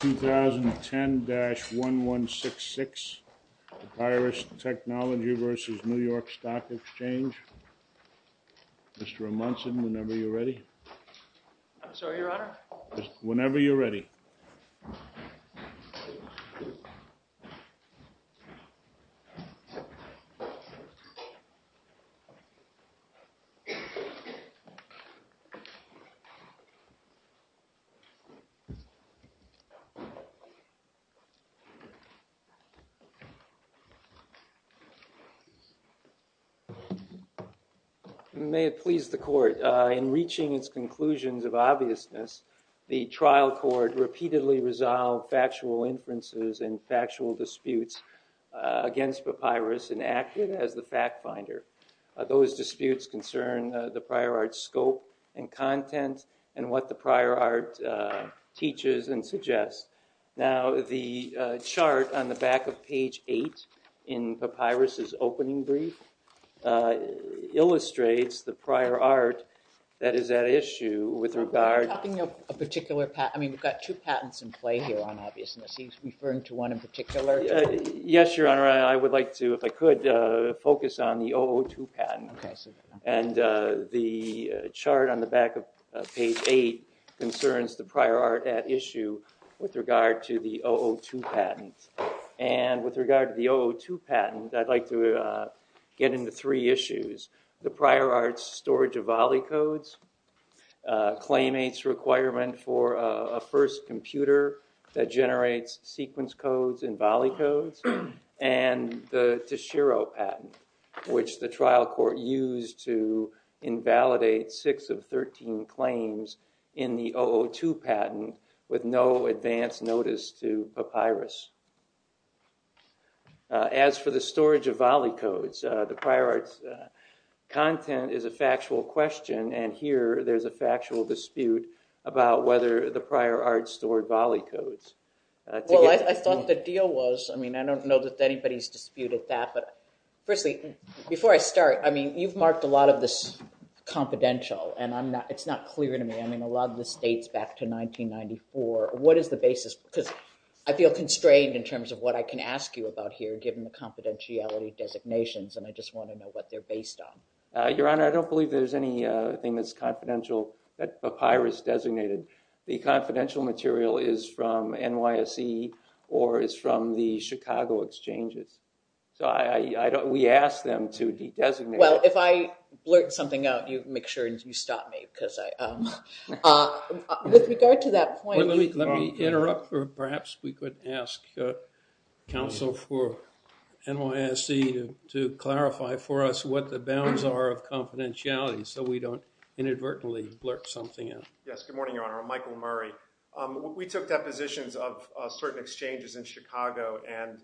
2010-1166 PAPYRUS TECH v. NEW YORK STOCK May it please the Court, in reaching its conclusions of obviousness, the trial court repeatedly resolved factual inferences and factual disputes against PAPYRUS and acted as the fact-finder. Those disputes concern the prior art's scope and content and what the prior art teaches and suggests. Now, the chart on the back of page 8 in PAPYRUS's opening brief illustrates the prior art that is at issue with regard to… Are you talking of a particular patent? I mean, we've got two patents in play here on obviousness. Are you referring to one in particular? Yes, Your Honor. I would like to, if I could, focus on the 002 patent. Okay. And the chart on the back of page 8 concerns the prior art at issue with regard to the 002 patent. And with regard to the 002 patent, I'd like to get into three issues. The prior art's storage of volley codes, claimant's requirement for a first computer that generates sequence codes and volley codes, and the Teshiro patent, which the trial court used to invalidate six of 13 claims in the 002 patent with no advance notice to PAPYRUS. As for the storage of volley codes, the prior art's content is a factual question, and here there's a factual dispute about whether the prior art stored volley codes. Well, I thought the deal was. I mean, I don't know that anybody's disputed that, but firstly, before I start, I mean, you've marked a lot of this confidential, and it's not clear to me. I mean, a lot of this dates back to 1994. What is the basis? Because I feel constrained in terms of what I can ask you about here, given the confidentiality designations, and I just want to know what they're based on. Your Honor, I don't believe there's anything that's confidential that PAPYRUS designated. The confidential material is from NYSE or is from the Chicago exchanges. So, I don't, we asked them to de-designate it. Well, if I blurt something out, you make sure you stop me, because I, with regard to that point. Let me interrupt, or perhaps we could ask counsel for NYSE to clarify for us what the bounds are of confidentiality, so we don't inadvertently blurt something out. Yes, good morning, Your Honor. I'm Michael Murray. We took depositions of certain exchanges in Chicago, and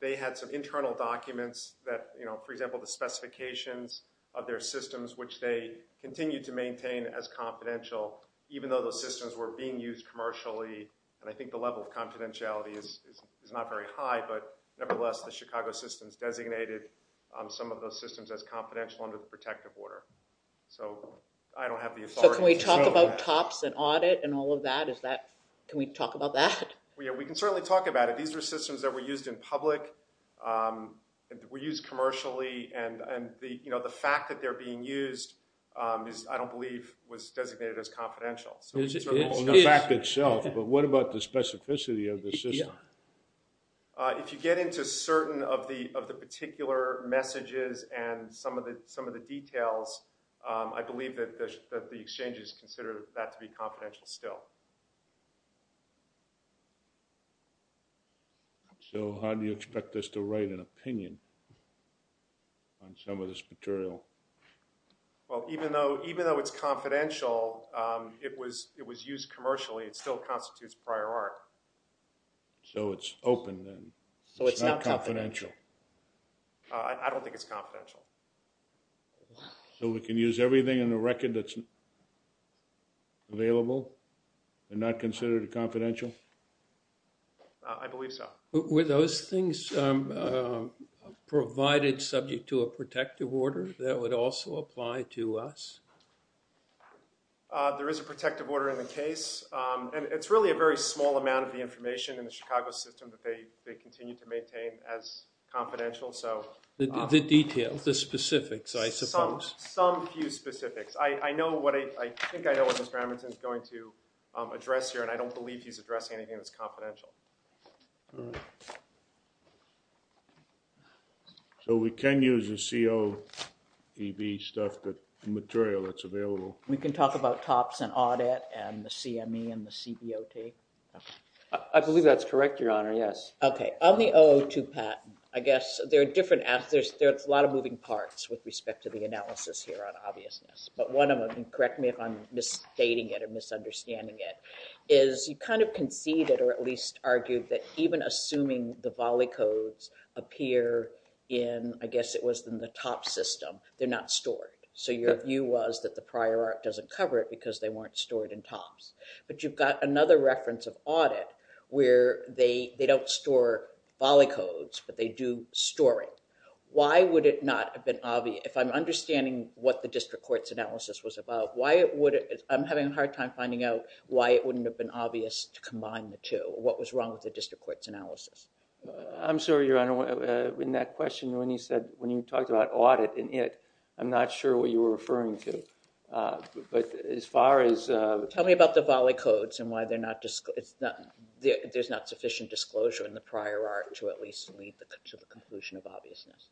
they had some internal documents that, you know, for example, the specifications of their systems, which they continued to maintain as confidential, even though those systems were being used commercially, and I think the level of confidentiality is not very high, but nevertheless, the Chicago system's designated some of those systems as confidential under the protective order. So, I don't have the authority to disclose that. So, can we talk about TOPS and audit and all of that? Is that, can we talk about that? Yeah, we can certainly talk about it. These are systems that were used in public, were used commercially, and the, you know, the fact that they're being used is, I don't believe was designated as confidential. It is. It is. In fact, itself, but what about the specificity of the system? If you get into certain of the, of the particular messages and some of the, some of the details, I believe that the exchanges consider that to be confidential still. So, how do you expect us to write an opinion on some of this material? Well, even though, even though it's confidential, it was, it was used commercially, it still constitutes prior art. So, it's open then. So, it's not confidential. I don't think it's confidential. So, we can use everything in the record that's available and not consider it a confidential? I believe so. Were those things provided subject to a protective order that would also apply to us? There is a protective order in the case, and it's really a very small amount of the information in the Chicago system that they, they continue to maintain as confidential, so. The details, the specifics, I suppose. Some, some few specifics. I know what I, I think I know what Mr. Hamilton is going to address here, and I don't believe he's addressing anything that's confidential. All right. So, we can use the COEB stuff, the material that's available? We can talk about TOPS and audit and the CME and the CBOT? I believe that's correct, Your Honor, yes. Okay. On the 002 patent, I guess there are different, there's a lot of moving parts with respect to the analysis here on obviousness. But one of them, and correct me if I'm misstating it or misunderstanding it, is you kind of conceded or at least argued that even assuming the volley codes appear in, I guess it was in the TOPS system, they're not stored. So your view was that the prior art doesn't cover it because they weren't stored in TOPS. But you've got another reference of audit where they, they don't store volley codes, but they do store it. Why would it not have been obvious? If I'm understanding what the district court's analysis was about, why would it, I'm having a hard time finding out why it wouldn't have been obvious to combine the two. What was wrong with the district court's analysis? I'm sorry, Your Honor, in that question when you said, when you talked about audit and it, I'm not sure what you were referring to. But as far as... Tell me about the volley codes and why they're not, there's not sufficient disclosure in the prior art to at least lead to the conclusion of obviousness.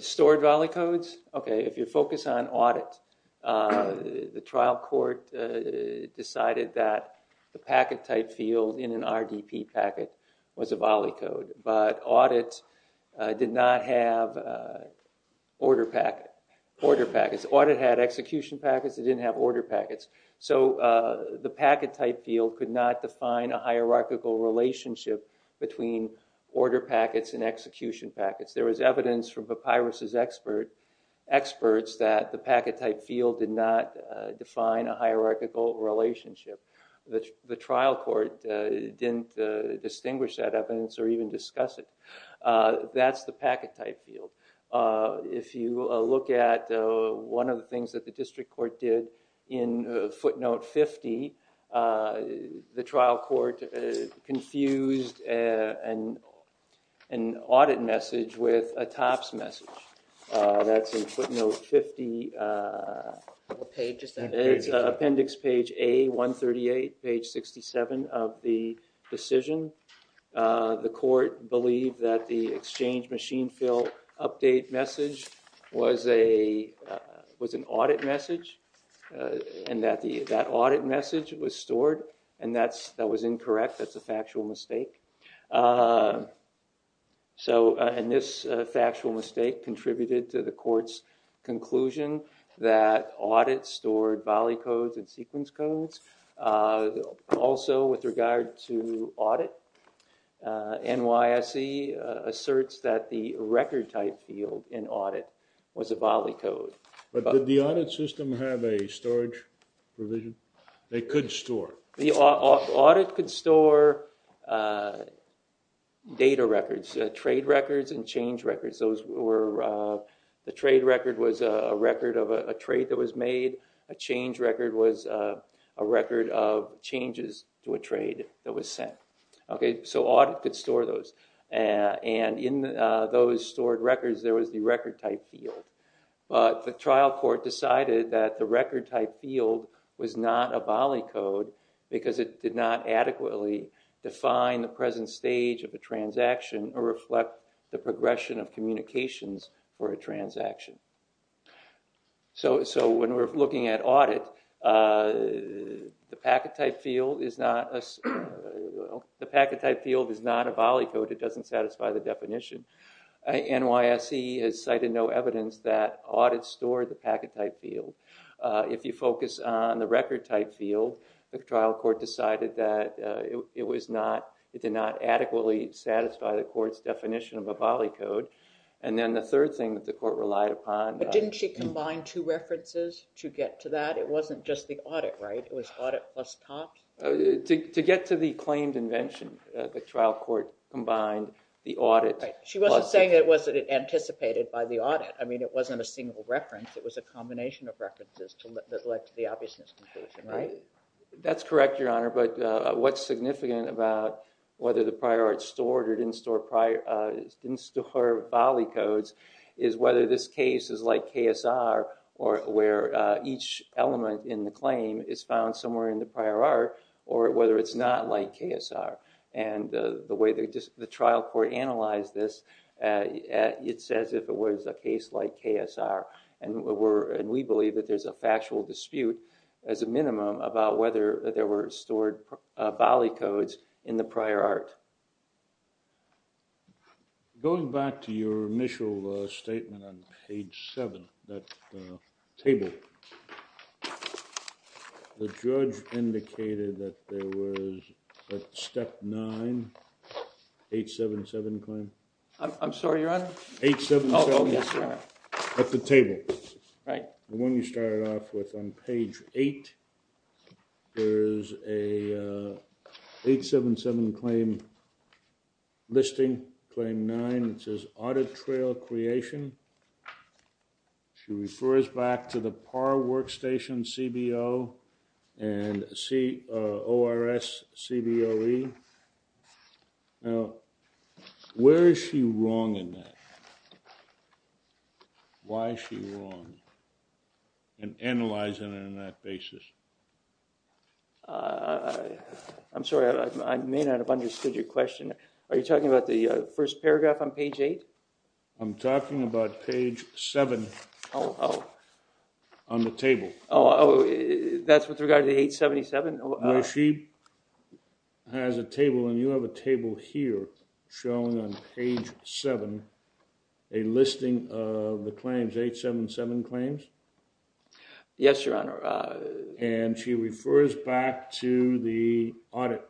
Stored volley codes? Okay, if you focus on audit, the trial court decided that the packet type field in an RDP packet was a volley code. But audit did not have order packet, order packets. Audit had execution packets, it didn't have order packets. So the packet type field could not define a hierarchical relationship between order packets and execution packets. There was evidence from Papyrus's experts that the packet type field did not define a hierarchical relationship. The trial court didn't distinguish that evidence or even discuss it. That's the packet type field. If you look at one of the things that the district court did in footnote 50, the trial court confused an audit message with a TOPS message. That's in footnote 50. What page is that? It's appendix page A138, page 67 of the decision. The court believed that the exchange machine field update message was an audit message. That audit message was stored and that was incorrect. That's a factual mistake. This factual mistake contributed to the court's conclusion that audit stored volley codes and sequence codes. Also, with regard to audit, NYSE asserts that the record type field in audit was a volley code. Did the audit system have a storage provision? They could store. Audit could store data records, trade records and change records. The trade record was a record of a trade that was made. A change record was a record of changes to a trade that was sent. Audit could store those. In those stored records, there was the record type field. The trial court decided that the record type field was not a volley code because it did not adequately define the present stage of a transaction or reflect the progression of communications for a transaction. When we're looking at audit, the packet type field is not a volley code. It doesn't satisfy the definition. NYSE has cited no evidence that audit stored the packet type field. If you focus on the record type field, the trial court decided that it did not adequately satisfy the court's definition of a volley code. The third thing that the court relied upon... Didn't she combine two references to get to that? It wasn't just the audit, right? It was audit plus top? To get to the claimed invention, the trial court combined the audit... She wasn't saying it wasn't anticipated by the audit. It wasn't a single reference. It was a combination of references that led to the obviousness conclusion, right? That's correct, Your Honor. What's significant about whether the prior art stored or didn't store volley codes is whether this case is like KSR where each element in the claim is found somewhere in the prior art or whether it's not like KSR. The way the trial court analyzed this, it's as if it was a case like KSR. We believe that there's a factual dispute as a minimum about whether there were stored volley codes in the prior art. Going back to your initial statement on page 7, that table, the judge indicated that there was a step 9, 877 claim. I'm sorry, Your Honor? 877. Oh, yes, Your Honor. At the table. Right. The one you started off with on page 8, there's a 877 claim listing, claim 9. It says audit trail creation. She refers back to the PAR workstation CBO and ORS CBOE. Now, where is she wrong in that? Why is she wrong in analyzing it on that basis? I'm sorry. I may not have understood your question. Are you talking about the first paragraph on page 8? I'm talking about page 7 on the table. Oh, that's with regard to 877? No, she has a table, and you have a table here showing on page 7 a listing of the claims, 877 claims. Yes, Your Honor. And she refers back to the audit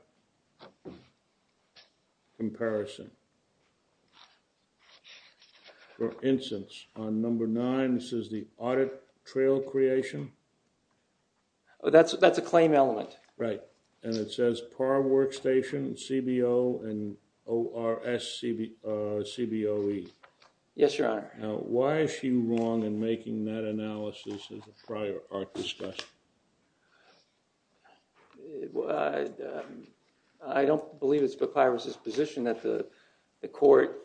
comparison. For instance, on number 9, this is the audit trail creation. That's a claim element. Right. And it says PAR workstation CBO and ORS CBOE. Yes, Your Honor. Now, why is she wrong in making that analysis as a prior art discussion? I don't believe it's McIvers' position that the court,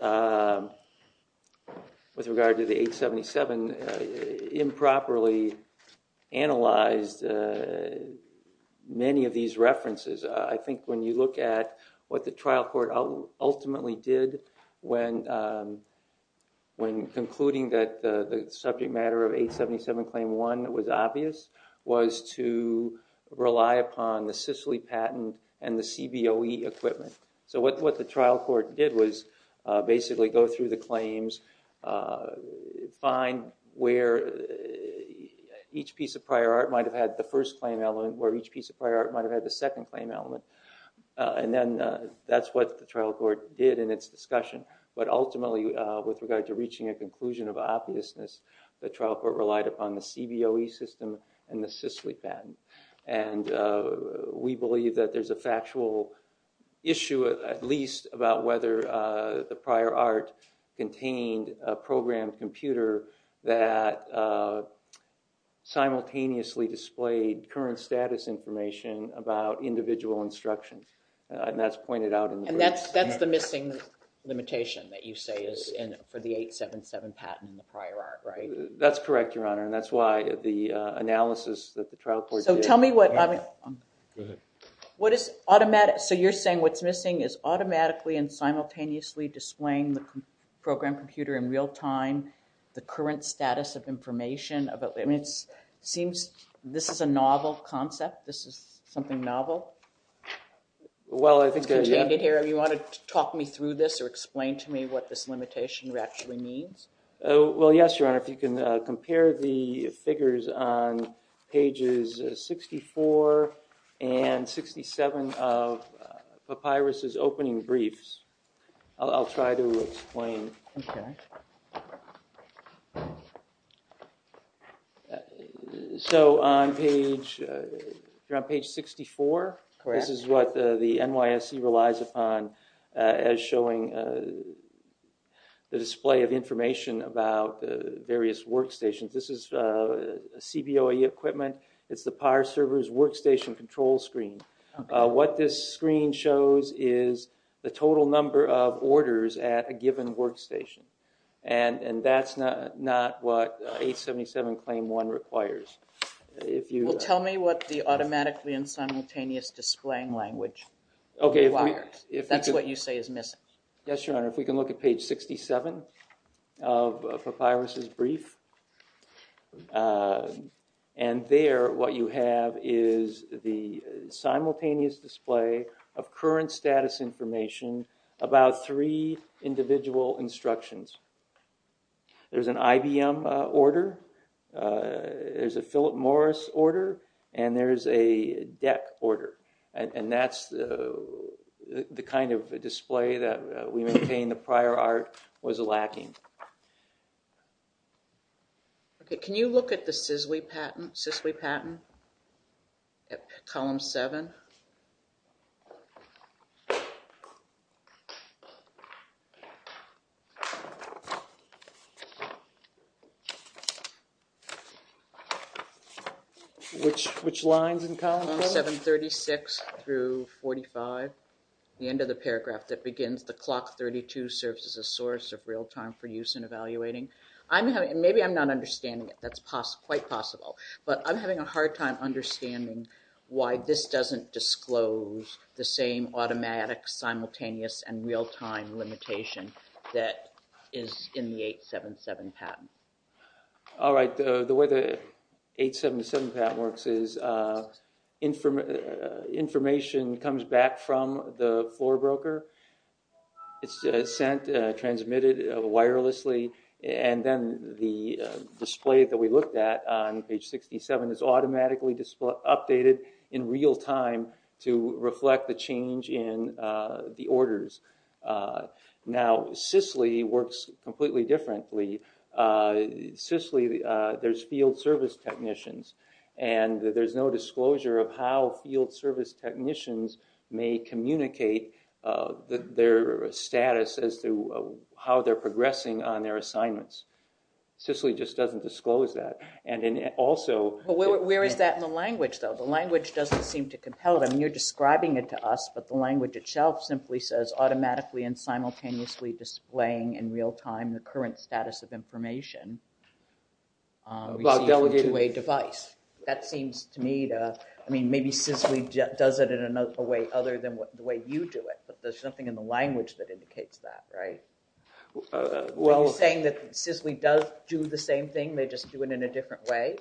with regard to the 877, improperly analyzed many of these references. I think when you look at what the trial court ultimately did when concluding that the subject matter of 877 claim 1 was obvious was to rely upon the Sicily patent and the CBOE equipment. So what the trial court did was basically go through the claims, find where each piece of prior art might have had the first claim element, where each piece of prior art might have had the second claim element. And then that's what the trial court did in its discussion. But ultimately, with regard to reaching a conclusion of obviousness, the trial court relied upon the CBOE system and the Sicily patent. And we believe that there's a factual issue, at least, about whether the prior art contained a program computer that simultaneously displayed current status information about individual instructions. And that's the missing limitation that you say is for the 877 patent and the prior art, right? That's correct, Your Honor. And that's why the analysis that the trial court did— So tell me what— Go ahead. So you're saying what's missing is automatically and simultaneously displaying the program computer in real time, displaying the current status of information about—I mean, it seems this is a novel concept. This is something novel. Well, I think— It's contained in here. Do you want to talk me through this or explain to me what this limitation actually means? Well, yes, Your Honor. If you can compare the figures on pages 64 and 67 of Papyrus's opening briefs, I'll try to explain. Okay. So on page—you're on page 64? Correct. This is what the NYSC relies upon as showing the display of information about various workstations. This is CBOE equipment. It's the PAR server's workstation control screen. What this screen shows is the total number of orders at a given workstation. And that's not what 877 Claim 1 requires. Well, tell me what the automatically and simultaneous displaying language requires. That's what you say is missing. Yes, Your Honor. If we can look at page 67 of Papyrus's brief. And there what you have is the simultaneous display of current status information about three individual instructions. There's an IBM order. There's a Philip Morris order. And there's a DEC order. And that's the kind of display that we maintain the prior art was lacking. Okay. Can you look at the Sisley patent at column 7? Which lines in column 7? 736 through 45. The end of the paragraph that begins, the clock 32 serves as a source of real-time for use in evaluating. Maybe I'm not understanding it. That's quite possible. But I'm having a hard time understanding why this doesn't disclose the same automatic, simultaneous, and real-time limitation that is in the 877 patent. All right. The way the 877 patent works is information comes back from the floor broker. It's sent, transmitted wirelessly. And then the display that we looked at on page 67 is automatically updated in real-time to reflect the change in the orders. Now, Sisley works completely differently. Sisley, there's field service technicians. And there's no disclosure of how field service technicians may communicate their status as to how they're progressing on their assignments. Sisley just doesn't disclose that. And also – Where is that in the language, though? The language doesn't seem to compel them. I mean, you're describing it to us, but the language itself simply says, automatically and simultaneously displaying in real-time the current status of information to a device. That seems to me to – I mean, maybe Sisley does it in a way other than the way you do it. But there's something in the language that indicates that, right? Are you saying that Sisley does do the same thing, they just do it in a different way?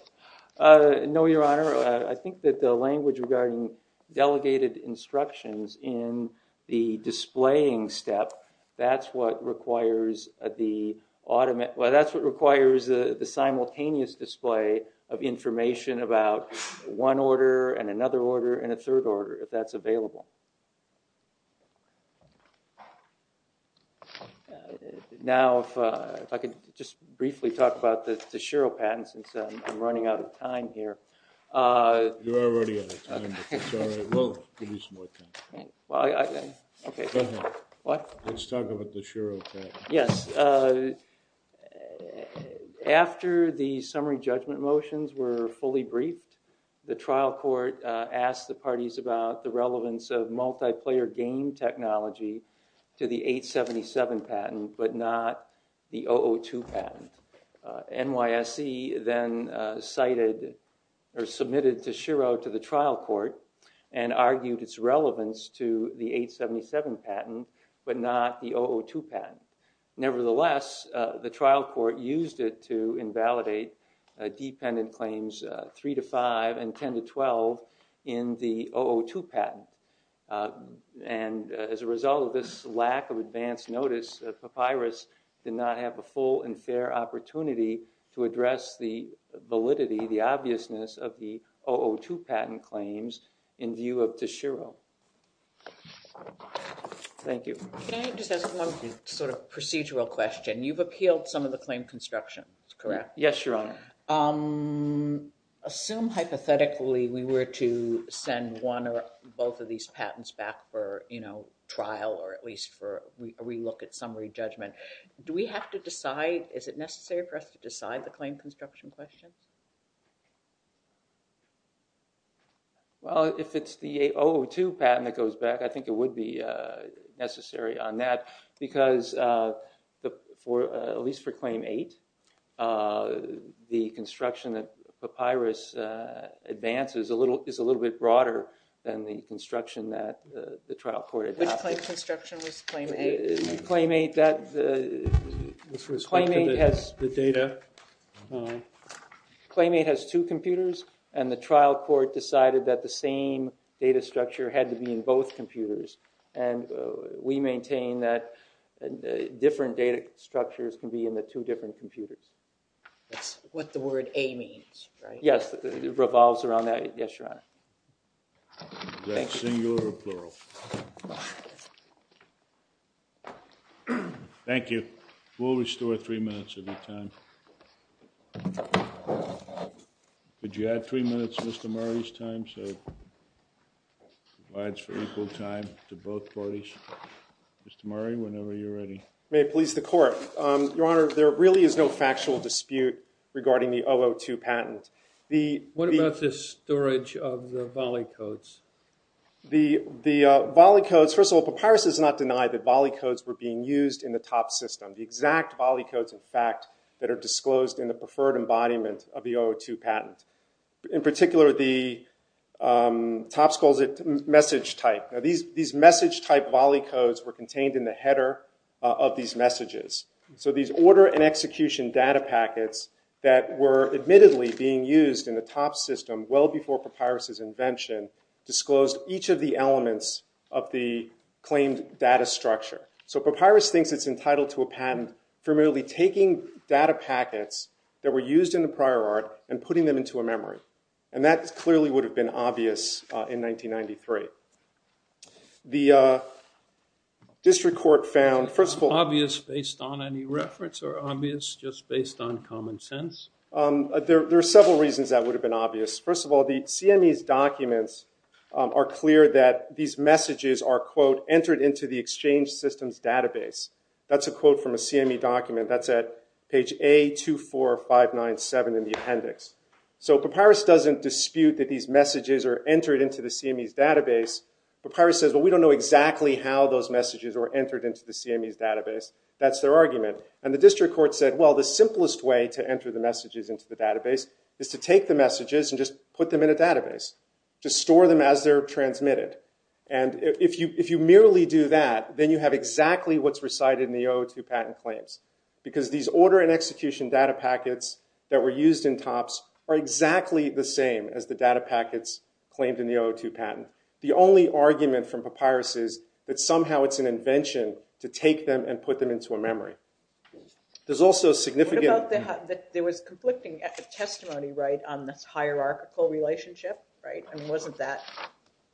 No, Your Honor. I think that the language regarding delegated instructions in the displaying step, that's what requires the – well, that's what requires the simultaneous display of information about one order and another order and a third order, if that's available. Now, if I could just briefly talk about the Shiro patent, since I'm running out of time here. You're already out of time, but it's all right. We'll give you some more time. Okay. Go ahead. What? Let's talk about the Shiro patent. Yes. After the summary judgment motions were fully briefed, the trial court asked the parties about the relevance of multiplayer game technology to the 877 patent, but not the 002 patent. NYSC then cited or submitted the Shiro to the trial court and argued its relevance to the 877 patent, but not the 002 patent. Nevertheless, the trial court used it to invalidate dependent claims 3 to 5 and 10 to 12 in the 002 patent. And as a result of this lack of advance notice, Papyrus did not have a full and fair opportunity to address the validity, the obviousness of the 002 patent claims in view of the Shiro. Thank you. Can I just ask one sort of procedural question? You've appealed some of the claim construction, correct? Yes, Your Honor. Assume hypothetically we were to send one or both of these patents back for, you know, trial or at least for a relook at summary judgment. Do we have to decide, is it necessary for us to decide the claim construction questions? Well, if it's the 002 patent that goes back, I think it would be necessary on that. Because at least for claim 8, the construction that Papyrus advances is a little bit broader than the construction that the trial court adopted. Which claim construction was claim 8? Claim 8 has two computers, and the trial court decided that the same data structure had to be in both computers. And we maintain that different data structures can be in the two different computers. That's what the word A means, right? Yes, it revolves around that. Yes, Your Honor. Is that singular or plural? Thank you. We'll restore three minutes of your time. Could you add three minutes to Mr. Murray's time so it provides for equal time to both parties? Mr. Murray, whenever you're ready. May it please the court. Your Honor, there really is no factual dispute regarding the 002 patent. What about the storage of the volley codes? The volley codes, first of all, Papyrus has not denied that volley codes were being used in the top system. The exact volley codes, in fact, that are disclosed in the preferred embodiment of the 002 patent. In particular, the TOPS calls it message type. Now, these message type volley codes were contained in the header of these messages. So these order and execution data packets that were admittedly being used in the TOPS system well before Papyrus' invention disclosed each of the elements of the claimed data structure. So Papyrus thinks it's entitled to a patent for merely taking data packets that were used in the prior art and putting them into a memory. And that clearly would have been obvious in 1993. The district court found, first of all- Obvious based on any reference or obvious just based on common sense? There are several reasons that would have been obvious. First of all, the CME's documents are clear that these messages are, quote, entered into the exchange systems database. That's a quote from a CME document. That's at page A24597 in the appendix. So Papyrus doesn't dispute that these messages are entered into the CME's database. Papyrus says, well, we don't know exactly how those messages were entered into the CME's database. That's their argument. And the district court said, well, the simplest way to enter the messages into the database is to take the messages and just put them in a database. Just store them as they're transmitted. And if you merely do that, then you have exactly what's recited in the 002 patent claims. Because these order and execution data packets that were used in TOPS are exactly the same as the data packets claimed in the 002 patent. The only argument from Papyrus is that somehow it's an invention to take them and put them into a memory. There's also significant- What about the- there was conflicting testimony, right, on this hierarchical relationship, right? I mean, wasn't that-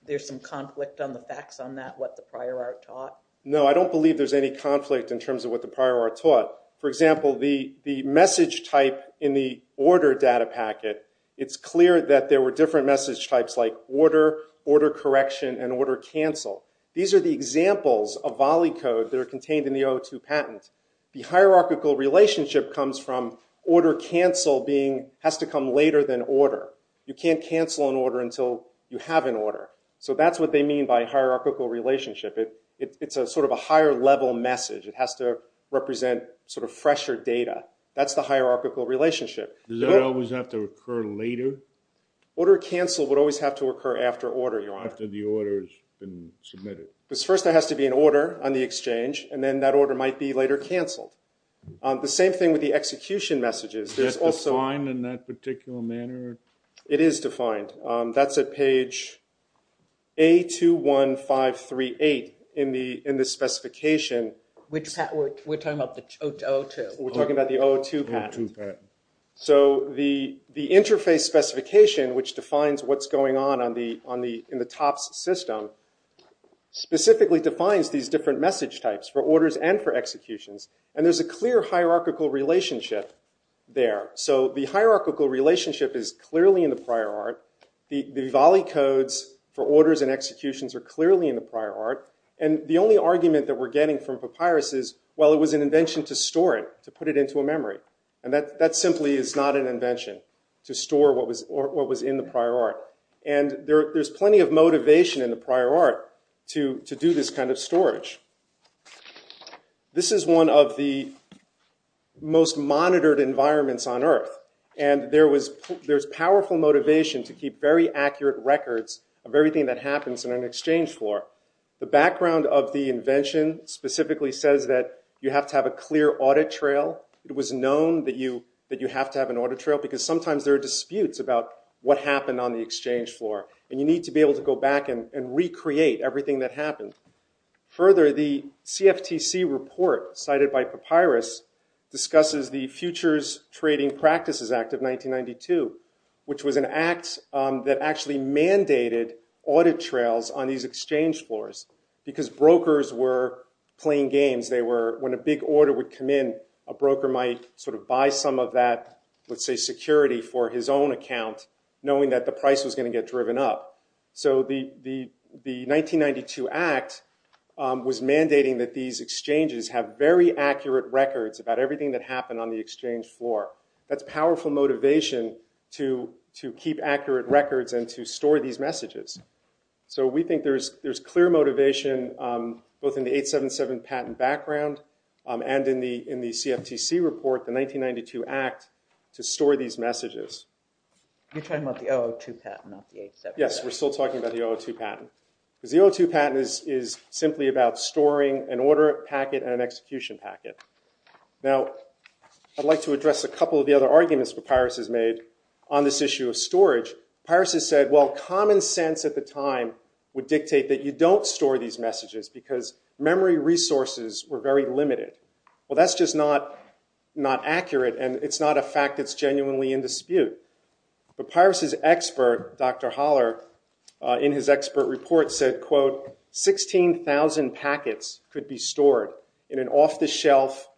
there's some conflict on the facts on that, what the prior art taught? No, I don't believe there's any conflict in terms of what the prior art taught. For example, the message type in the order data packet, it's clear that there were different message types like order, order correction, and order cancel. These are the examples of volley code that are contained in the 002 patent. The hierarchical relationship comes from order cancel being- has to come later than order. You can't cancel an order until you have an order. So that's what they mean by hierarchical relationship. It's sort of a higher-level message. It has to represent sort of fresher data. That's the hierarchical relationship. Does that always have to occur later? Order cancel would always have to occur after order, Your Honor. After the order's been submitted. Because first there has to be an order on the exchange, and then that order might be later canceled. The same thing with the execution messages. Is that defined in that particular manner? It is defined. That's at page A21538 in the specification. Which patent? We're talking about the 002. We're talking about the 002 patent. 002 patent. So the interface specification, which defines what's going on in the TOPS system, specifically defines these different message types for orders and for executions. And there's a clear hierarchical relationship there. So the hierarchical relationship is clearly in the prior art. The Volley codes for orders and executions are clearly in the prior art. And the only argument that we're getting from Papyrus is, well, it was an invention to store it, to put it into a memory. And that simply is not an invention, to store what was in the prior art. And there's plenty of motivation in the prior art to do this kind of storage. This is one of the most monitored environments on Earth. And there's powerful motivation to keep very accurate records of everything that happens in an exchange floor. The background of the invention specifically says that you have to have a clear audit trail. It was known that you have to have an audit trail, because sometimes there are disputes about what happened on the exchange floor. And you need to be able to go back and recreate everything that happened. Further, the CFTC report cited by Papyrus discusses the Futures Trading Practices Act of 1992, which was an act that actually mandated audit trails on these exchange floors, because brokers were playing games. When a big order would come in, a broker might sort of buy some of that, let's say, security for his own account, knowing that the price was going to get driven up. So the 1992 act was mandating that these exchanges have very accurate records about everything that happened on the exchange floor. That's powerful motivation to keep accurate records and to store these messages. So we think there's clear motivation, both in the 877 patent background and in the CFTC report, the 1992 act, to store these messages. You're talking about the 002 patent, not the 877. Yes, we're still talking about the 002 patent. Because the 002 patent is simply about storing an order packet and an execution packet. Now, I'd like to address a couple of the other arguments Papyrus has made on this issue of storage. Papyrus has said, well, common sense at the time would dictate that you don't store these messages, because memory resources were very limited. Well, that's just not accurate, and it's not a fact that's genuinely in dispute. But Papyrus's expert, Dr. Haller, in his expert report said, quote, 16,000 packets could be stored in an off-the-shelf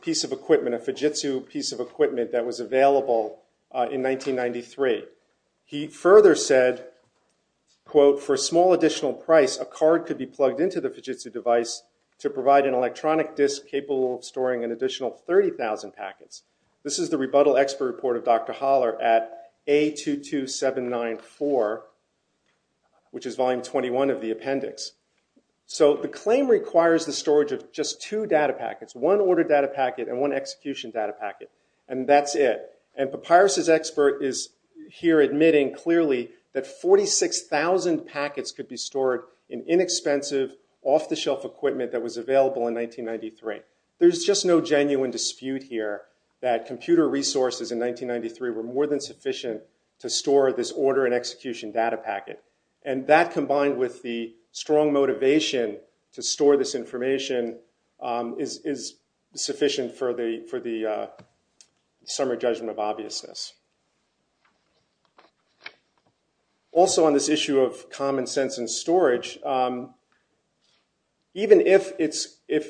piece of equipment, a Fujitsu piece of equipment that was available in 1993. He further said, quote, for a small additional price, a card could be plugged into the Fujitsu device to provide an electronic disk capable of storing an additional 30,000 packets. This is the rebuttal expert report of Dr. Haller at A22794, which is volume 21 of the appendix. So the claim requires the storage of just two data packets, one order data packet and one execution data packet. And that's it. And Papyrus's expert is here admitting clearly that 46,000 packets could be stored in inexpensive, off-the-shelf equipment that was available in 1993. There's just no genuine dispute here that computer resources in 1993 were more than sufficient to store this order and execution data packet. And that, combined with the strong motivation to store this information, is sufficient for the summer judgment of obviousness. Also on this issue of common sense and storage, even if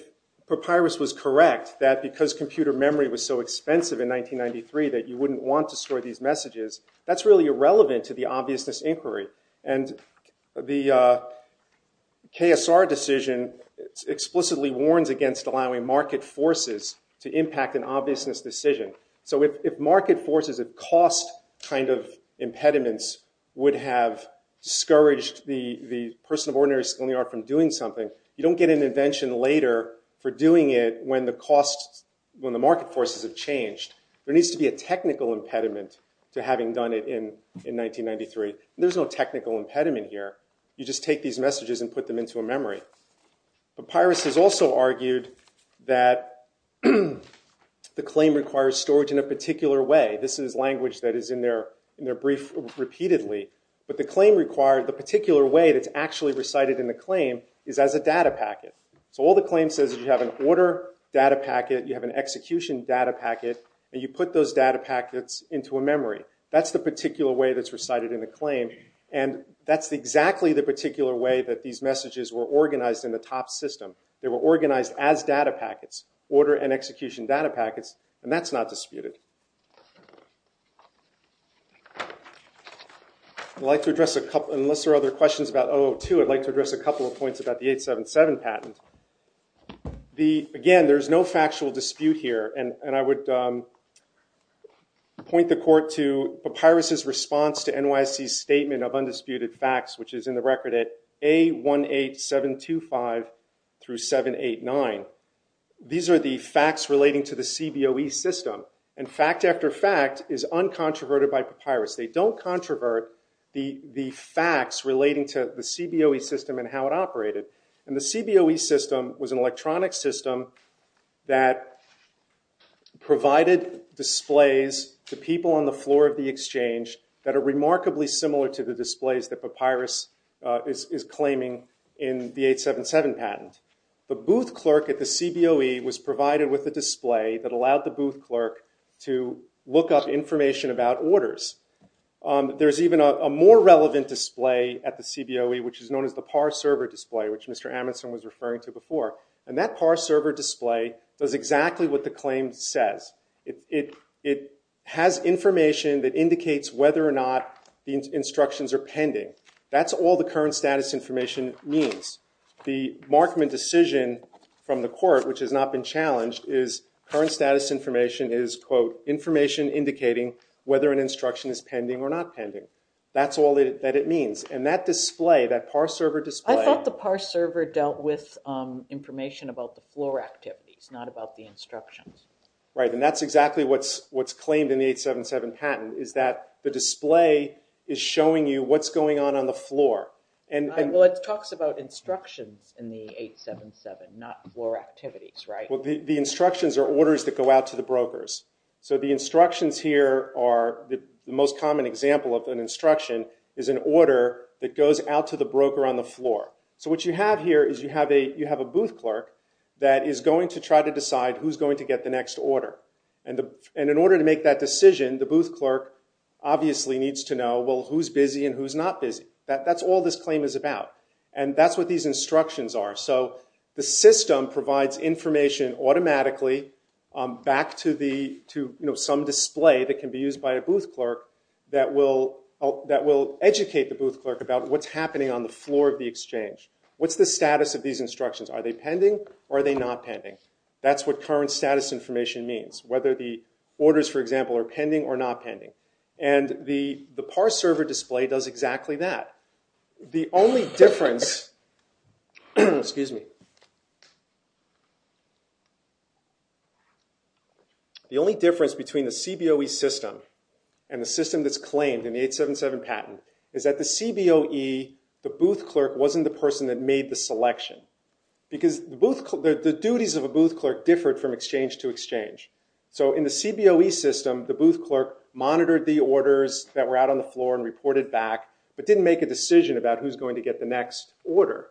Papyrus was correct that because computer memory was so expensive in 1993 that you wouldn't want to store these messages, that's really irrelevant to the obviousness inquiry. And the KSR decision explicitly warns against allowing market forces to impact an obviousness decision. So if market forces, if cost kind of impediments would have discouraged the person of ordinary skill and the art from doing something, you don't get an invention later for doing it when the costs, when the market forces have changed. There needs to be a technical impediment to having done it in 1993. There's no technical impediment here. You just take these messages and put them into a memory. Papyrus has also argued that the claim requires storage in a particular way. This is language that is in their brief repeatedly. But the claim required, the particular way that's actually recited in the claim is as a data packet. So all the claim says is you have an order data packet, you have an execution data packet, and you put those data packets into a memory. That's the particular way that's recited in the claim. And that's exactly the particular way that these messages were organized in the top system. They were organized as data packets, order and execution data packets, and that's not disputed. I'd like to address a couple, unless there are other questions about 002, I'd like to address a couple of points about the 877 patent. Again, there's no factual dispute here, and I would point the court to Papyrus's response to NYC's statement of undisputed facts, which is in the record at A18725 through 789. These are the facts relating to the CBOE system. And fact after fact is uncontroverted by Papyrus. They don't controvert the facts relating to the CBOE system and how it operated. And the CBOE system was an electronic system that provided displays to people on the floor of the exchange that are remarkably similar to the displays that Papyrus is claiming in the 877 patent. The booth clerk at the CBOE was provided with a display that allowed the booth clerk to look up information about orders. There's even a more relevant display at the CBOE, which is known as the par server display, which Mr. Amundson was referring to before. And that par server display does exactly what the claim says. It has information that indicates whether or not the instructions are pending. That's all the current status information means. The Markman decision from the court, which has not been challenged, is current status information is, quote, information indicating whether an instruction is pending or not pending. That's all that it means. And that display, that par server display- I thought the par server dealt with information about the floor activities, not about the instructions. Right. And that's exactly what's claimed in the 877 patent, is that the display is showing you what's going on on the floor. Well, it talks about instructions in the 877, not floor activities, right? Well, the instructions are orders that go out to the brokers. So the instructions here are- the most common example of an instruction is an order that goes out to the broker on the floor. So what you have here is you have a booth clerk that is going to try to decide who's going to get the next order. And in order to make that decision, the booth clerk obviously needs to know, well, who's busy and who's not busy. That's all this claim is about. And that's what these instructions are. So the system provides information automatically back to some display that can be used by a booth clerk that will educate the booth clerk about what's happening on the floor of the exchange. What's the status of these instructions? Are they pending or are they not pending? That's what current status information means, whether the orders, for example, are pending or not pending. And the PAR server display does exactly that. The only difference between the CBOE system and the system that's claimed in the 877 patent is that the CBOE, the booth clerk, wasn't the person that made the selection. Because the duties of a booth clerk differed from exchange to exchange. So in the CBOE system, the booth clerk monitored the orders that were out on the floor and reported back, but didn't make a decision about who's going to get the next order.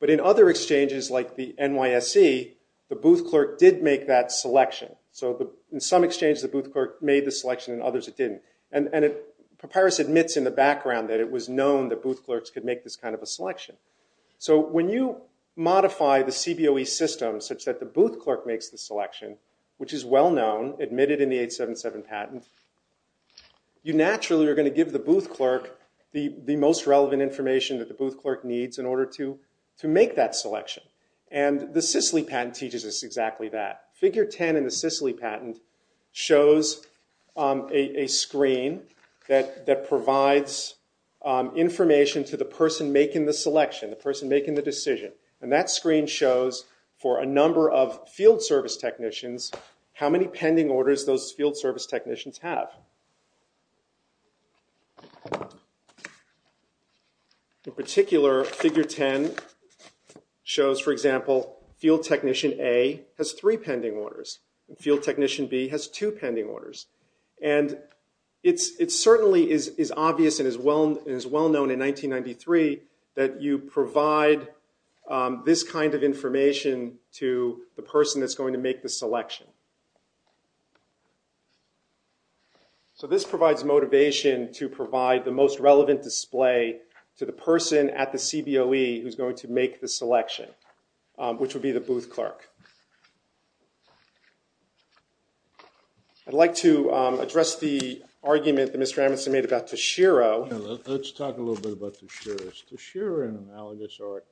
But in other exchanges, like the NYSE, the booth clerk did make that selection. So in some exchanges, the booth clerk made the selection. In others, it didn't. And Papyrus admits in the background that it was known that booth clerks could make this kind of a selection. So when you modify the CBOE system such that the booth clerk makes the selection, which is well known, admitted in the 877 patent, you naturally are going to give the booth clerk the most relevant information that the booth clerk needs in order to make that selection. And the CICELI patent teaches us exactly that. Figure 10 in the CICELI patent shows a screen that provides information to the person making the selection, the person making the decision. And that screen shows, for a number of field service technicians, how many pending orders those field service technicians have. In particular, figure 10 shows, for example, field technician A has three pending orders, and field technician B has two pending orders. And it certainly is obvious and is well known in 1993 that you provide this kind of information to the person that's going to make the selection. So this provides motivation to provide the most relevant display to the person at the CBOE who's going to make the selection, which would be the booth clerk. I'd like to address the argument that Mr. Amundson made about Tashiro. Let's talk a little bit about Tashiro. Is Tashiro an analogous art?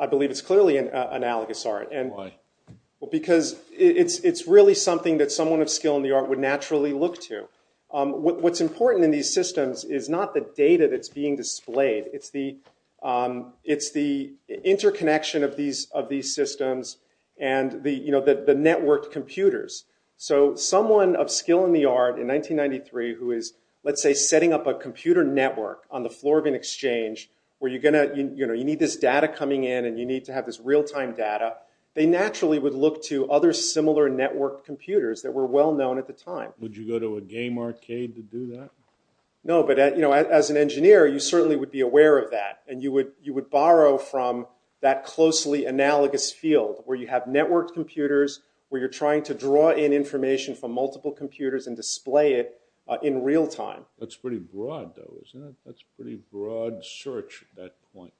I believe it's clearly an analogous art. Why? Well, because it's really something that someone of skill in the art would naturally look to. What's important in these systems is not the data that's being displayed. It's the interconnection of these systems and the networked computers. So someone of skill in the art in 1993 who is, let's say, setting up a computer network on the floor of an exchange where you need this data coming in and you need to have this real-time data, they naturally would look to other similar network computers that were well known at the time. Would you go to a game arcade to do that? No, but as an engineer, you certainly would be aware of that, and you would borrow from that closely analogous field where you have networked computers, where you're trying to draw in information from multiple computers and display it in real time. That's pretty broad, though, isn't it? That's a pretty broad search at that point.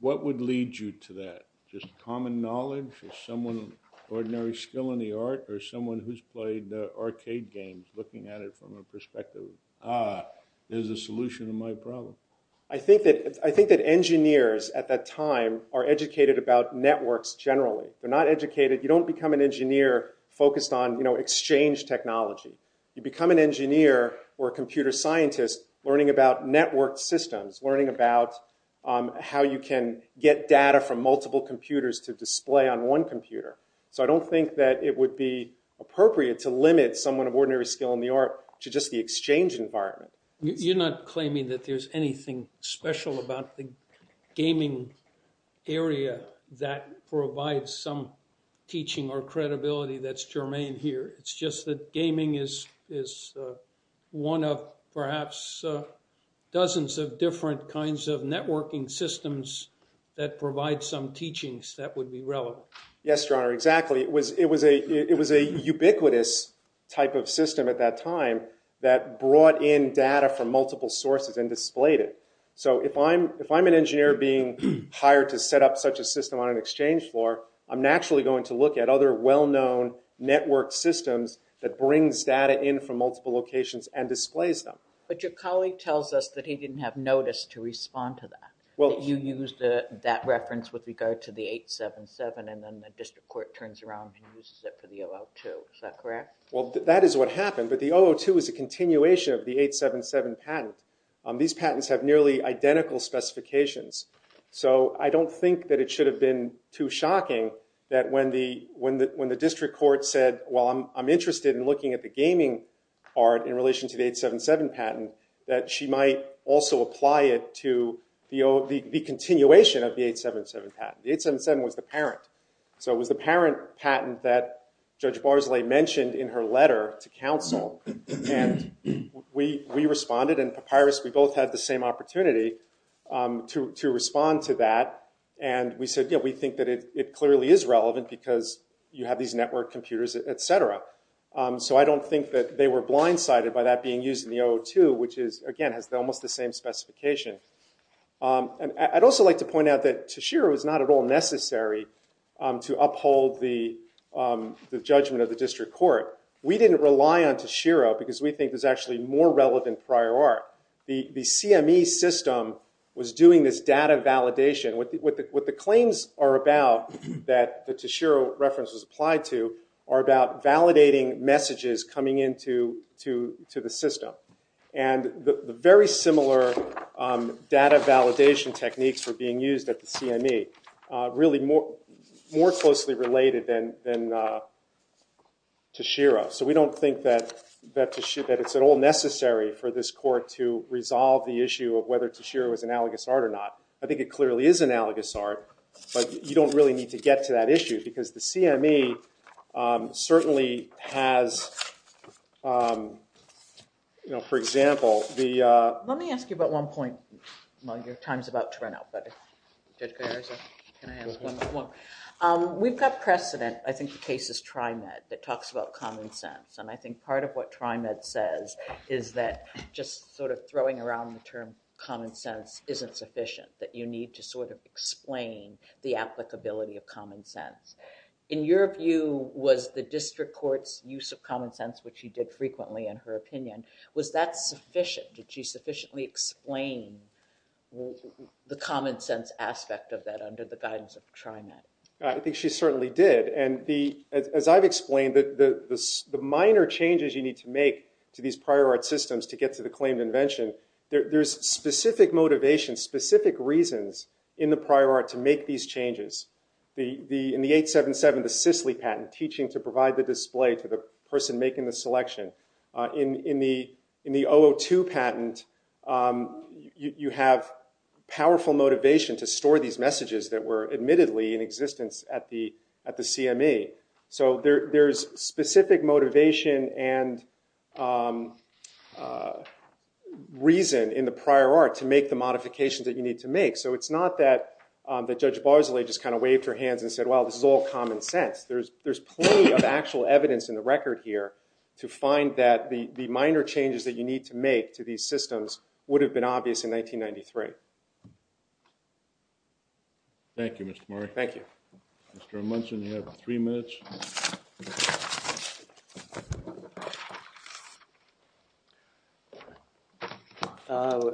What would lead you to that? Just common knowledge of someone of ordinary skill in the art or someone who's played arcade games looking at it from a perspective of, ah, there's a solution to my problem. I think that engineers at that time are educated about networks generally. They're not educated. You don't become an engineer focused on exchange technology. You become an engineer or a computer scientist learning about network systems, learning about how you can get data from multiple computers to display on one computer. So, I don't think that it would be appropriate to limit someone of ordinary skill in the art to just the exchange environment. You're not claiming that there's anything special about the gaming area that provides some teaching or credibility that's germane here. It's just that gaming is one of perhaps dozens of different kinds of networking systems that provide some teachings that would be relevant. Yes, Your Honor, exactly. It was a ubiquitous type of system at that time that brought in data from multiple sources and displayed it. So, if I'm an engineer being hired to set up such a system on an exchange floor, I'm naturally going to look at other well-known network systems that brings data in from multiple locations and displays them. But your colleague tells us that he didn't have notice to respond to that, that you used that reference with regard to the 877 and then the district court turns around and uses it for the 002. Is that correct? Well, that is what happened, but the 002 is a continuation of the 877 patent. These patents have nearly identical specifications. So, I don't think that it should have been too shocking that when the district court said, well, I'm interested in looking at the gaming art in relation to the 877 patent, that she might also apply it to the continuation of the 877 patent. The 877 was the parent. that Judge Barsley mentioned in her letter to counsel. And we responded, and Papyrus, we both had the same opportunity to respond to that. And we said, yeah, we think that it clearly is relevant because you have these network computers, et cetera. So, I don't think that they were blindsided by that being used in the 002, which is, again, has almost the same specification. And I'd also like to point out that Tashiro is not at all necessary to uphold the judgment of the district court. We didn't rely on Tashiro because we think there's actually more relevant prior art. The CME system was doing this data validation. What the claims are about that the Tashiro reference was applied to are about validating messages coming into the system. And the very similar data validation techniques were being used at the CME, really more closely related than Tashiro. So, we don't think that it's at all necessary for this court to resolve the issue of whether Tashiro is analogous art or not. I think it clearly is analogous art, but you don't really need to get to that issue because the CME certainly has, for example, the- Let me ask you about one point. Well, your time's about to run out. We've got precedent. I think the case is TRIMED that talks about common sense. And I think part of what TRIMED says is that just sort of throwing around the term common sense isn't sufficient. That you need to sort of explain the applicability of common sense. In your view, was the district court's use of common sense, which she did frequently in her opinion, was that sufficient? Did she sufficiently explain the common sense aspect of that under the guidance of TRIMED? I think she certainly did. And as I've explained, the minor changes you need to make to these prior art systems to get to the claimed invention, there's specific motivation, specific reasons in the prior art to make these changes. In the 877, the Sisley patent, teaching to provide the display to the person making the selection. In the 002 patent, you have powerful motivation to store these messages that were admittedly in existence at the CME. So there's specific motivation and reason in the prior art to make the modifications that you need to make. So it's not that Judge Bosley just kind of waved her hands and said, well, this is all common sense. There's plenty of actual evidence in the record here to find that the minor changes that you need to make to these systems would have been obvious in 1993. Thank you, Mr. Murray. Thank you. Mr. Munson, you have three minutes. Thank you.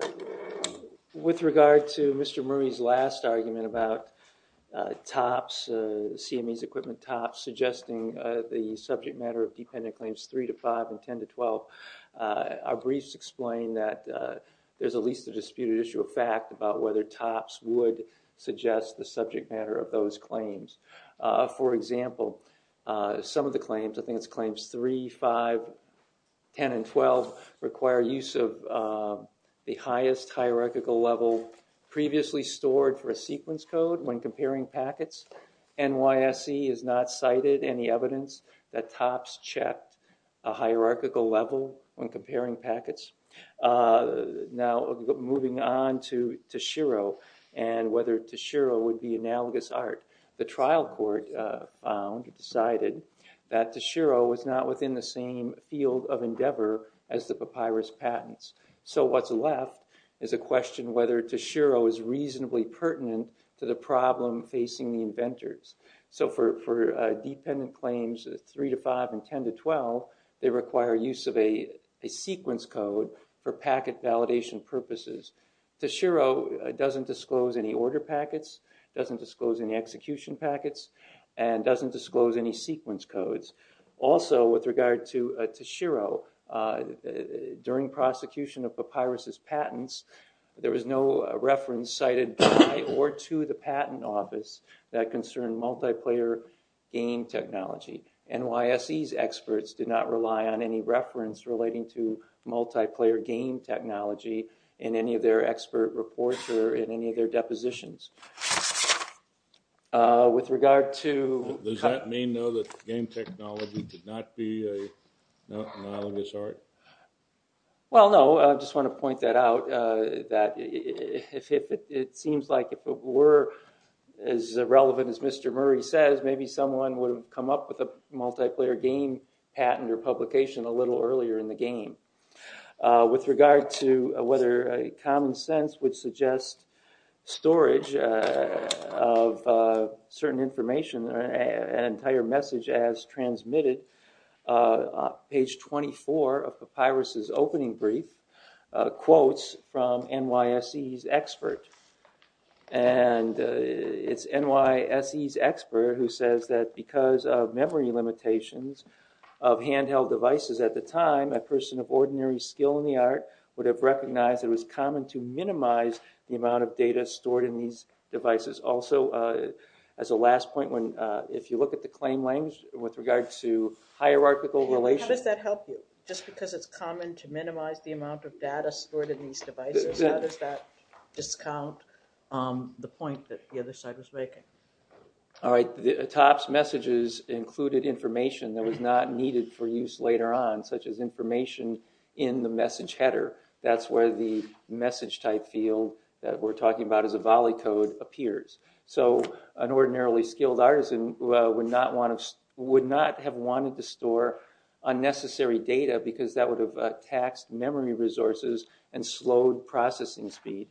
With regard to Mr. Murray's last argument about TOPS, CME's equipment TOPS, suggesting the subject matter of dependent claims 3 to 5 and 10 to 12, our briefs explain that there's at least a disputed issue of fact about whether TOPS would suggest the subject matter of those claims. For example, some of the claims, I think it's claims 3, 5, 10, and 12, require use of the highest hierarchical level previously stored for a sequence code when comparing packets. NYSE has not cited any evidence that TOPS checked a hierarchical level when comparing packets. Now, moving on to Tashiro and whether Tashiro would be analogous art. The trial court found, decided, that Tashiro was not within the same field of endeavor as the papyrus patents. So what's left is a question whether Tashiro is reasonably pertinent to the problem facing the inventors. So for dependent claims 3 to 5 and 10 to 12, they require use of a sequence code for packet validation purposes. Tashiro doesn't disclose any order packets, doesn't disclose any execution packets, and doesn't disclose any sequence codes. Also, with regard to Tashiro, during prosecution of papyrus's patents, there was no reference cited by or to the patent office that concerned multiplayer game technology. NYSE's experts did not rely on any reference relating to multiplayer game technology in any of their expert reports or in any of their depositions. Does that mean, though, that game technology did not be an analogous art? Well, no. I just want to point that out. It seems like if it were as relevant as Mr. Murray says, maybe someone would have come up with a multiplayer game patent or publication a little earlier in the game. With regard to whether common sense would suggest storage of certain information, an entire message as transmitted, page 24 of papyrus's opening brief quotes from NYSE's expert. And it's NYSE's expert who says that because of memory limitations of handheld devices at the time, a person of ordinary skill in the art would have recognized it was common to minimize the amount of data stored in these devices. Also, as a last point, if you look at the claim language with regard to hierarchical relations— How does that help you? Just because it's common to minimize the amount of data stored in these devices, how does that discount the point that the other side was making? All right. Atop's messages included information that was not needed for use later on, such as information in the message header. That's where the message type field that we're talking about as a volley code appears. So, an ordinarily skilled artisan would not have wanted to store unnecessary data because that would have taxed memory resources and slowed processing speed.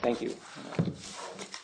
Thank you.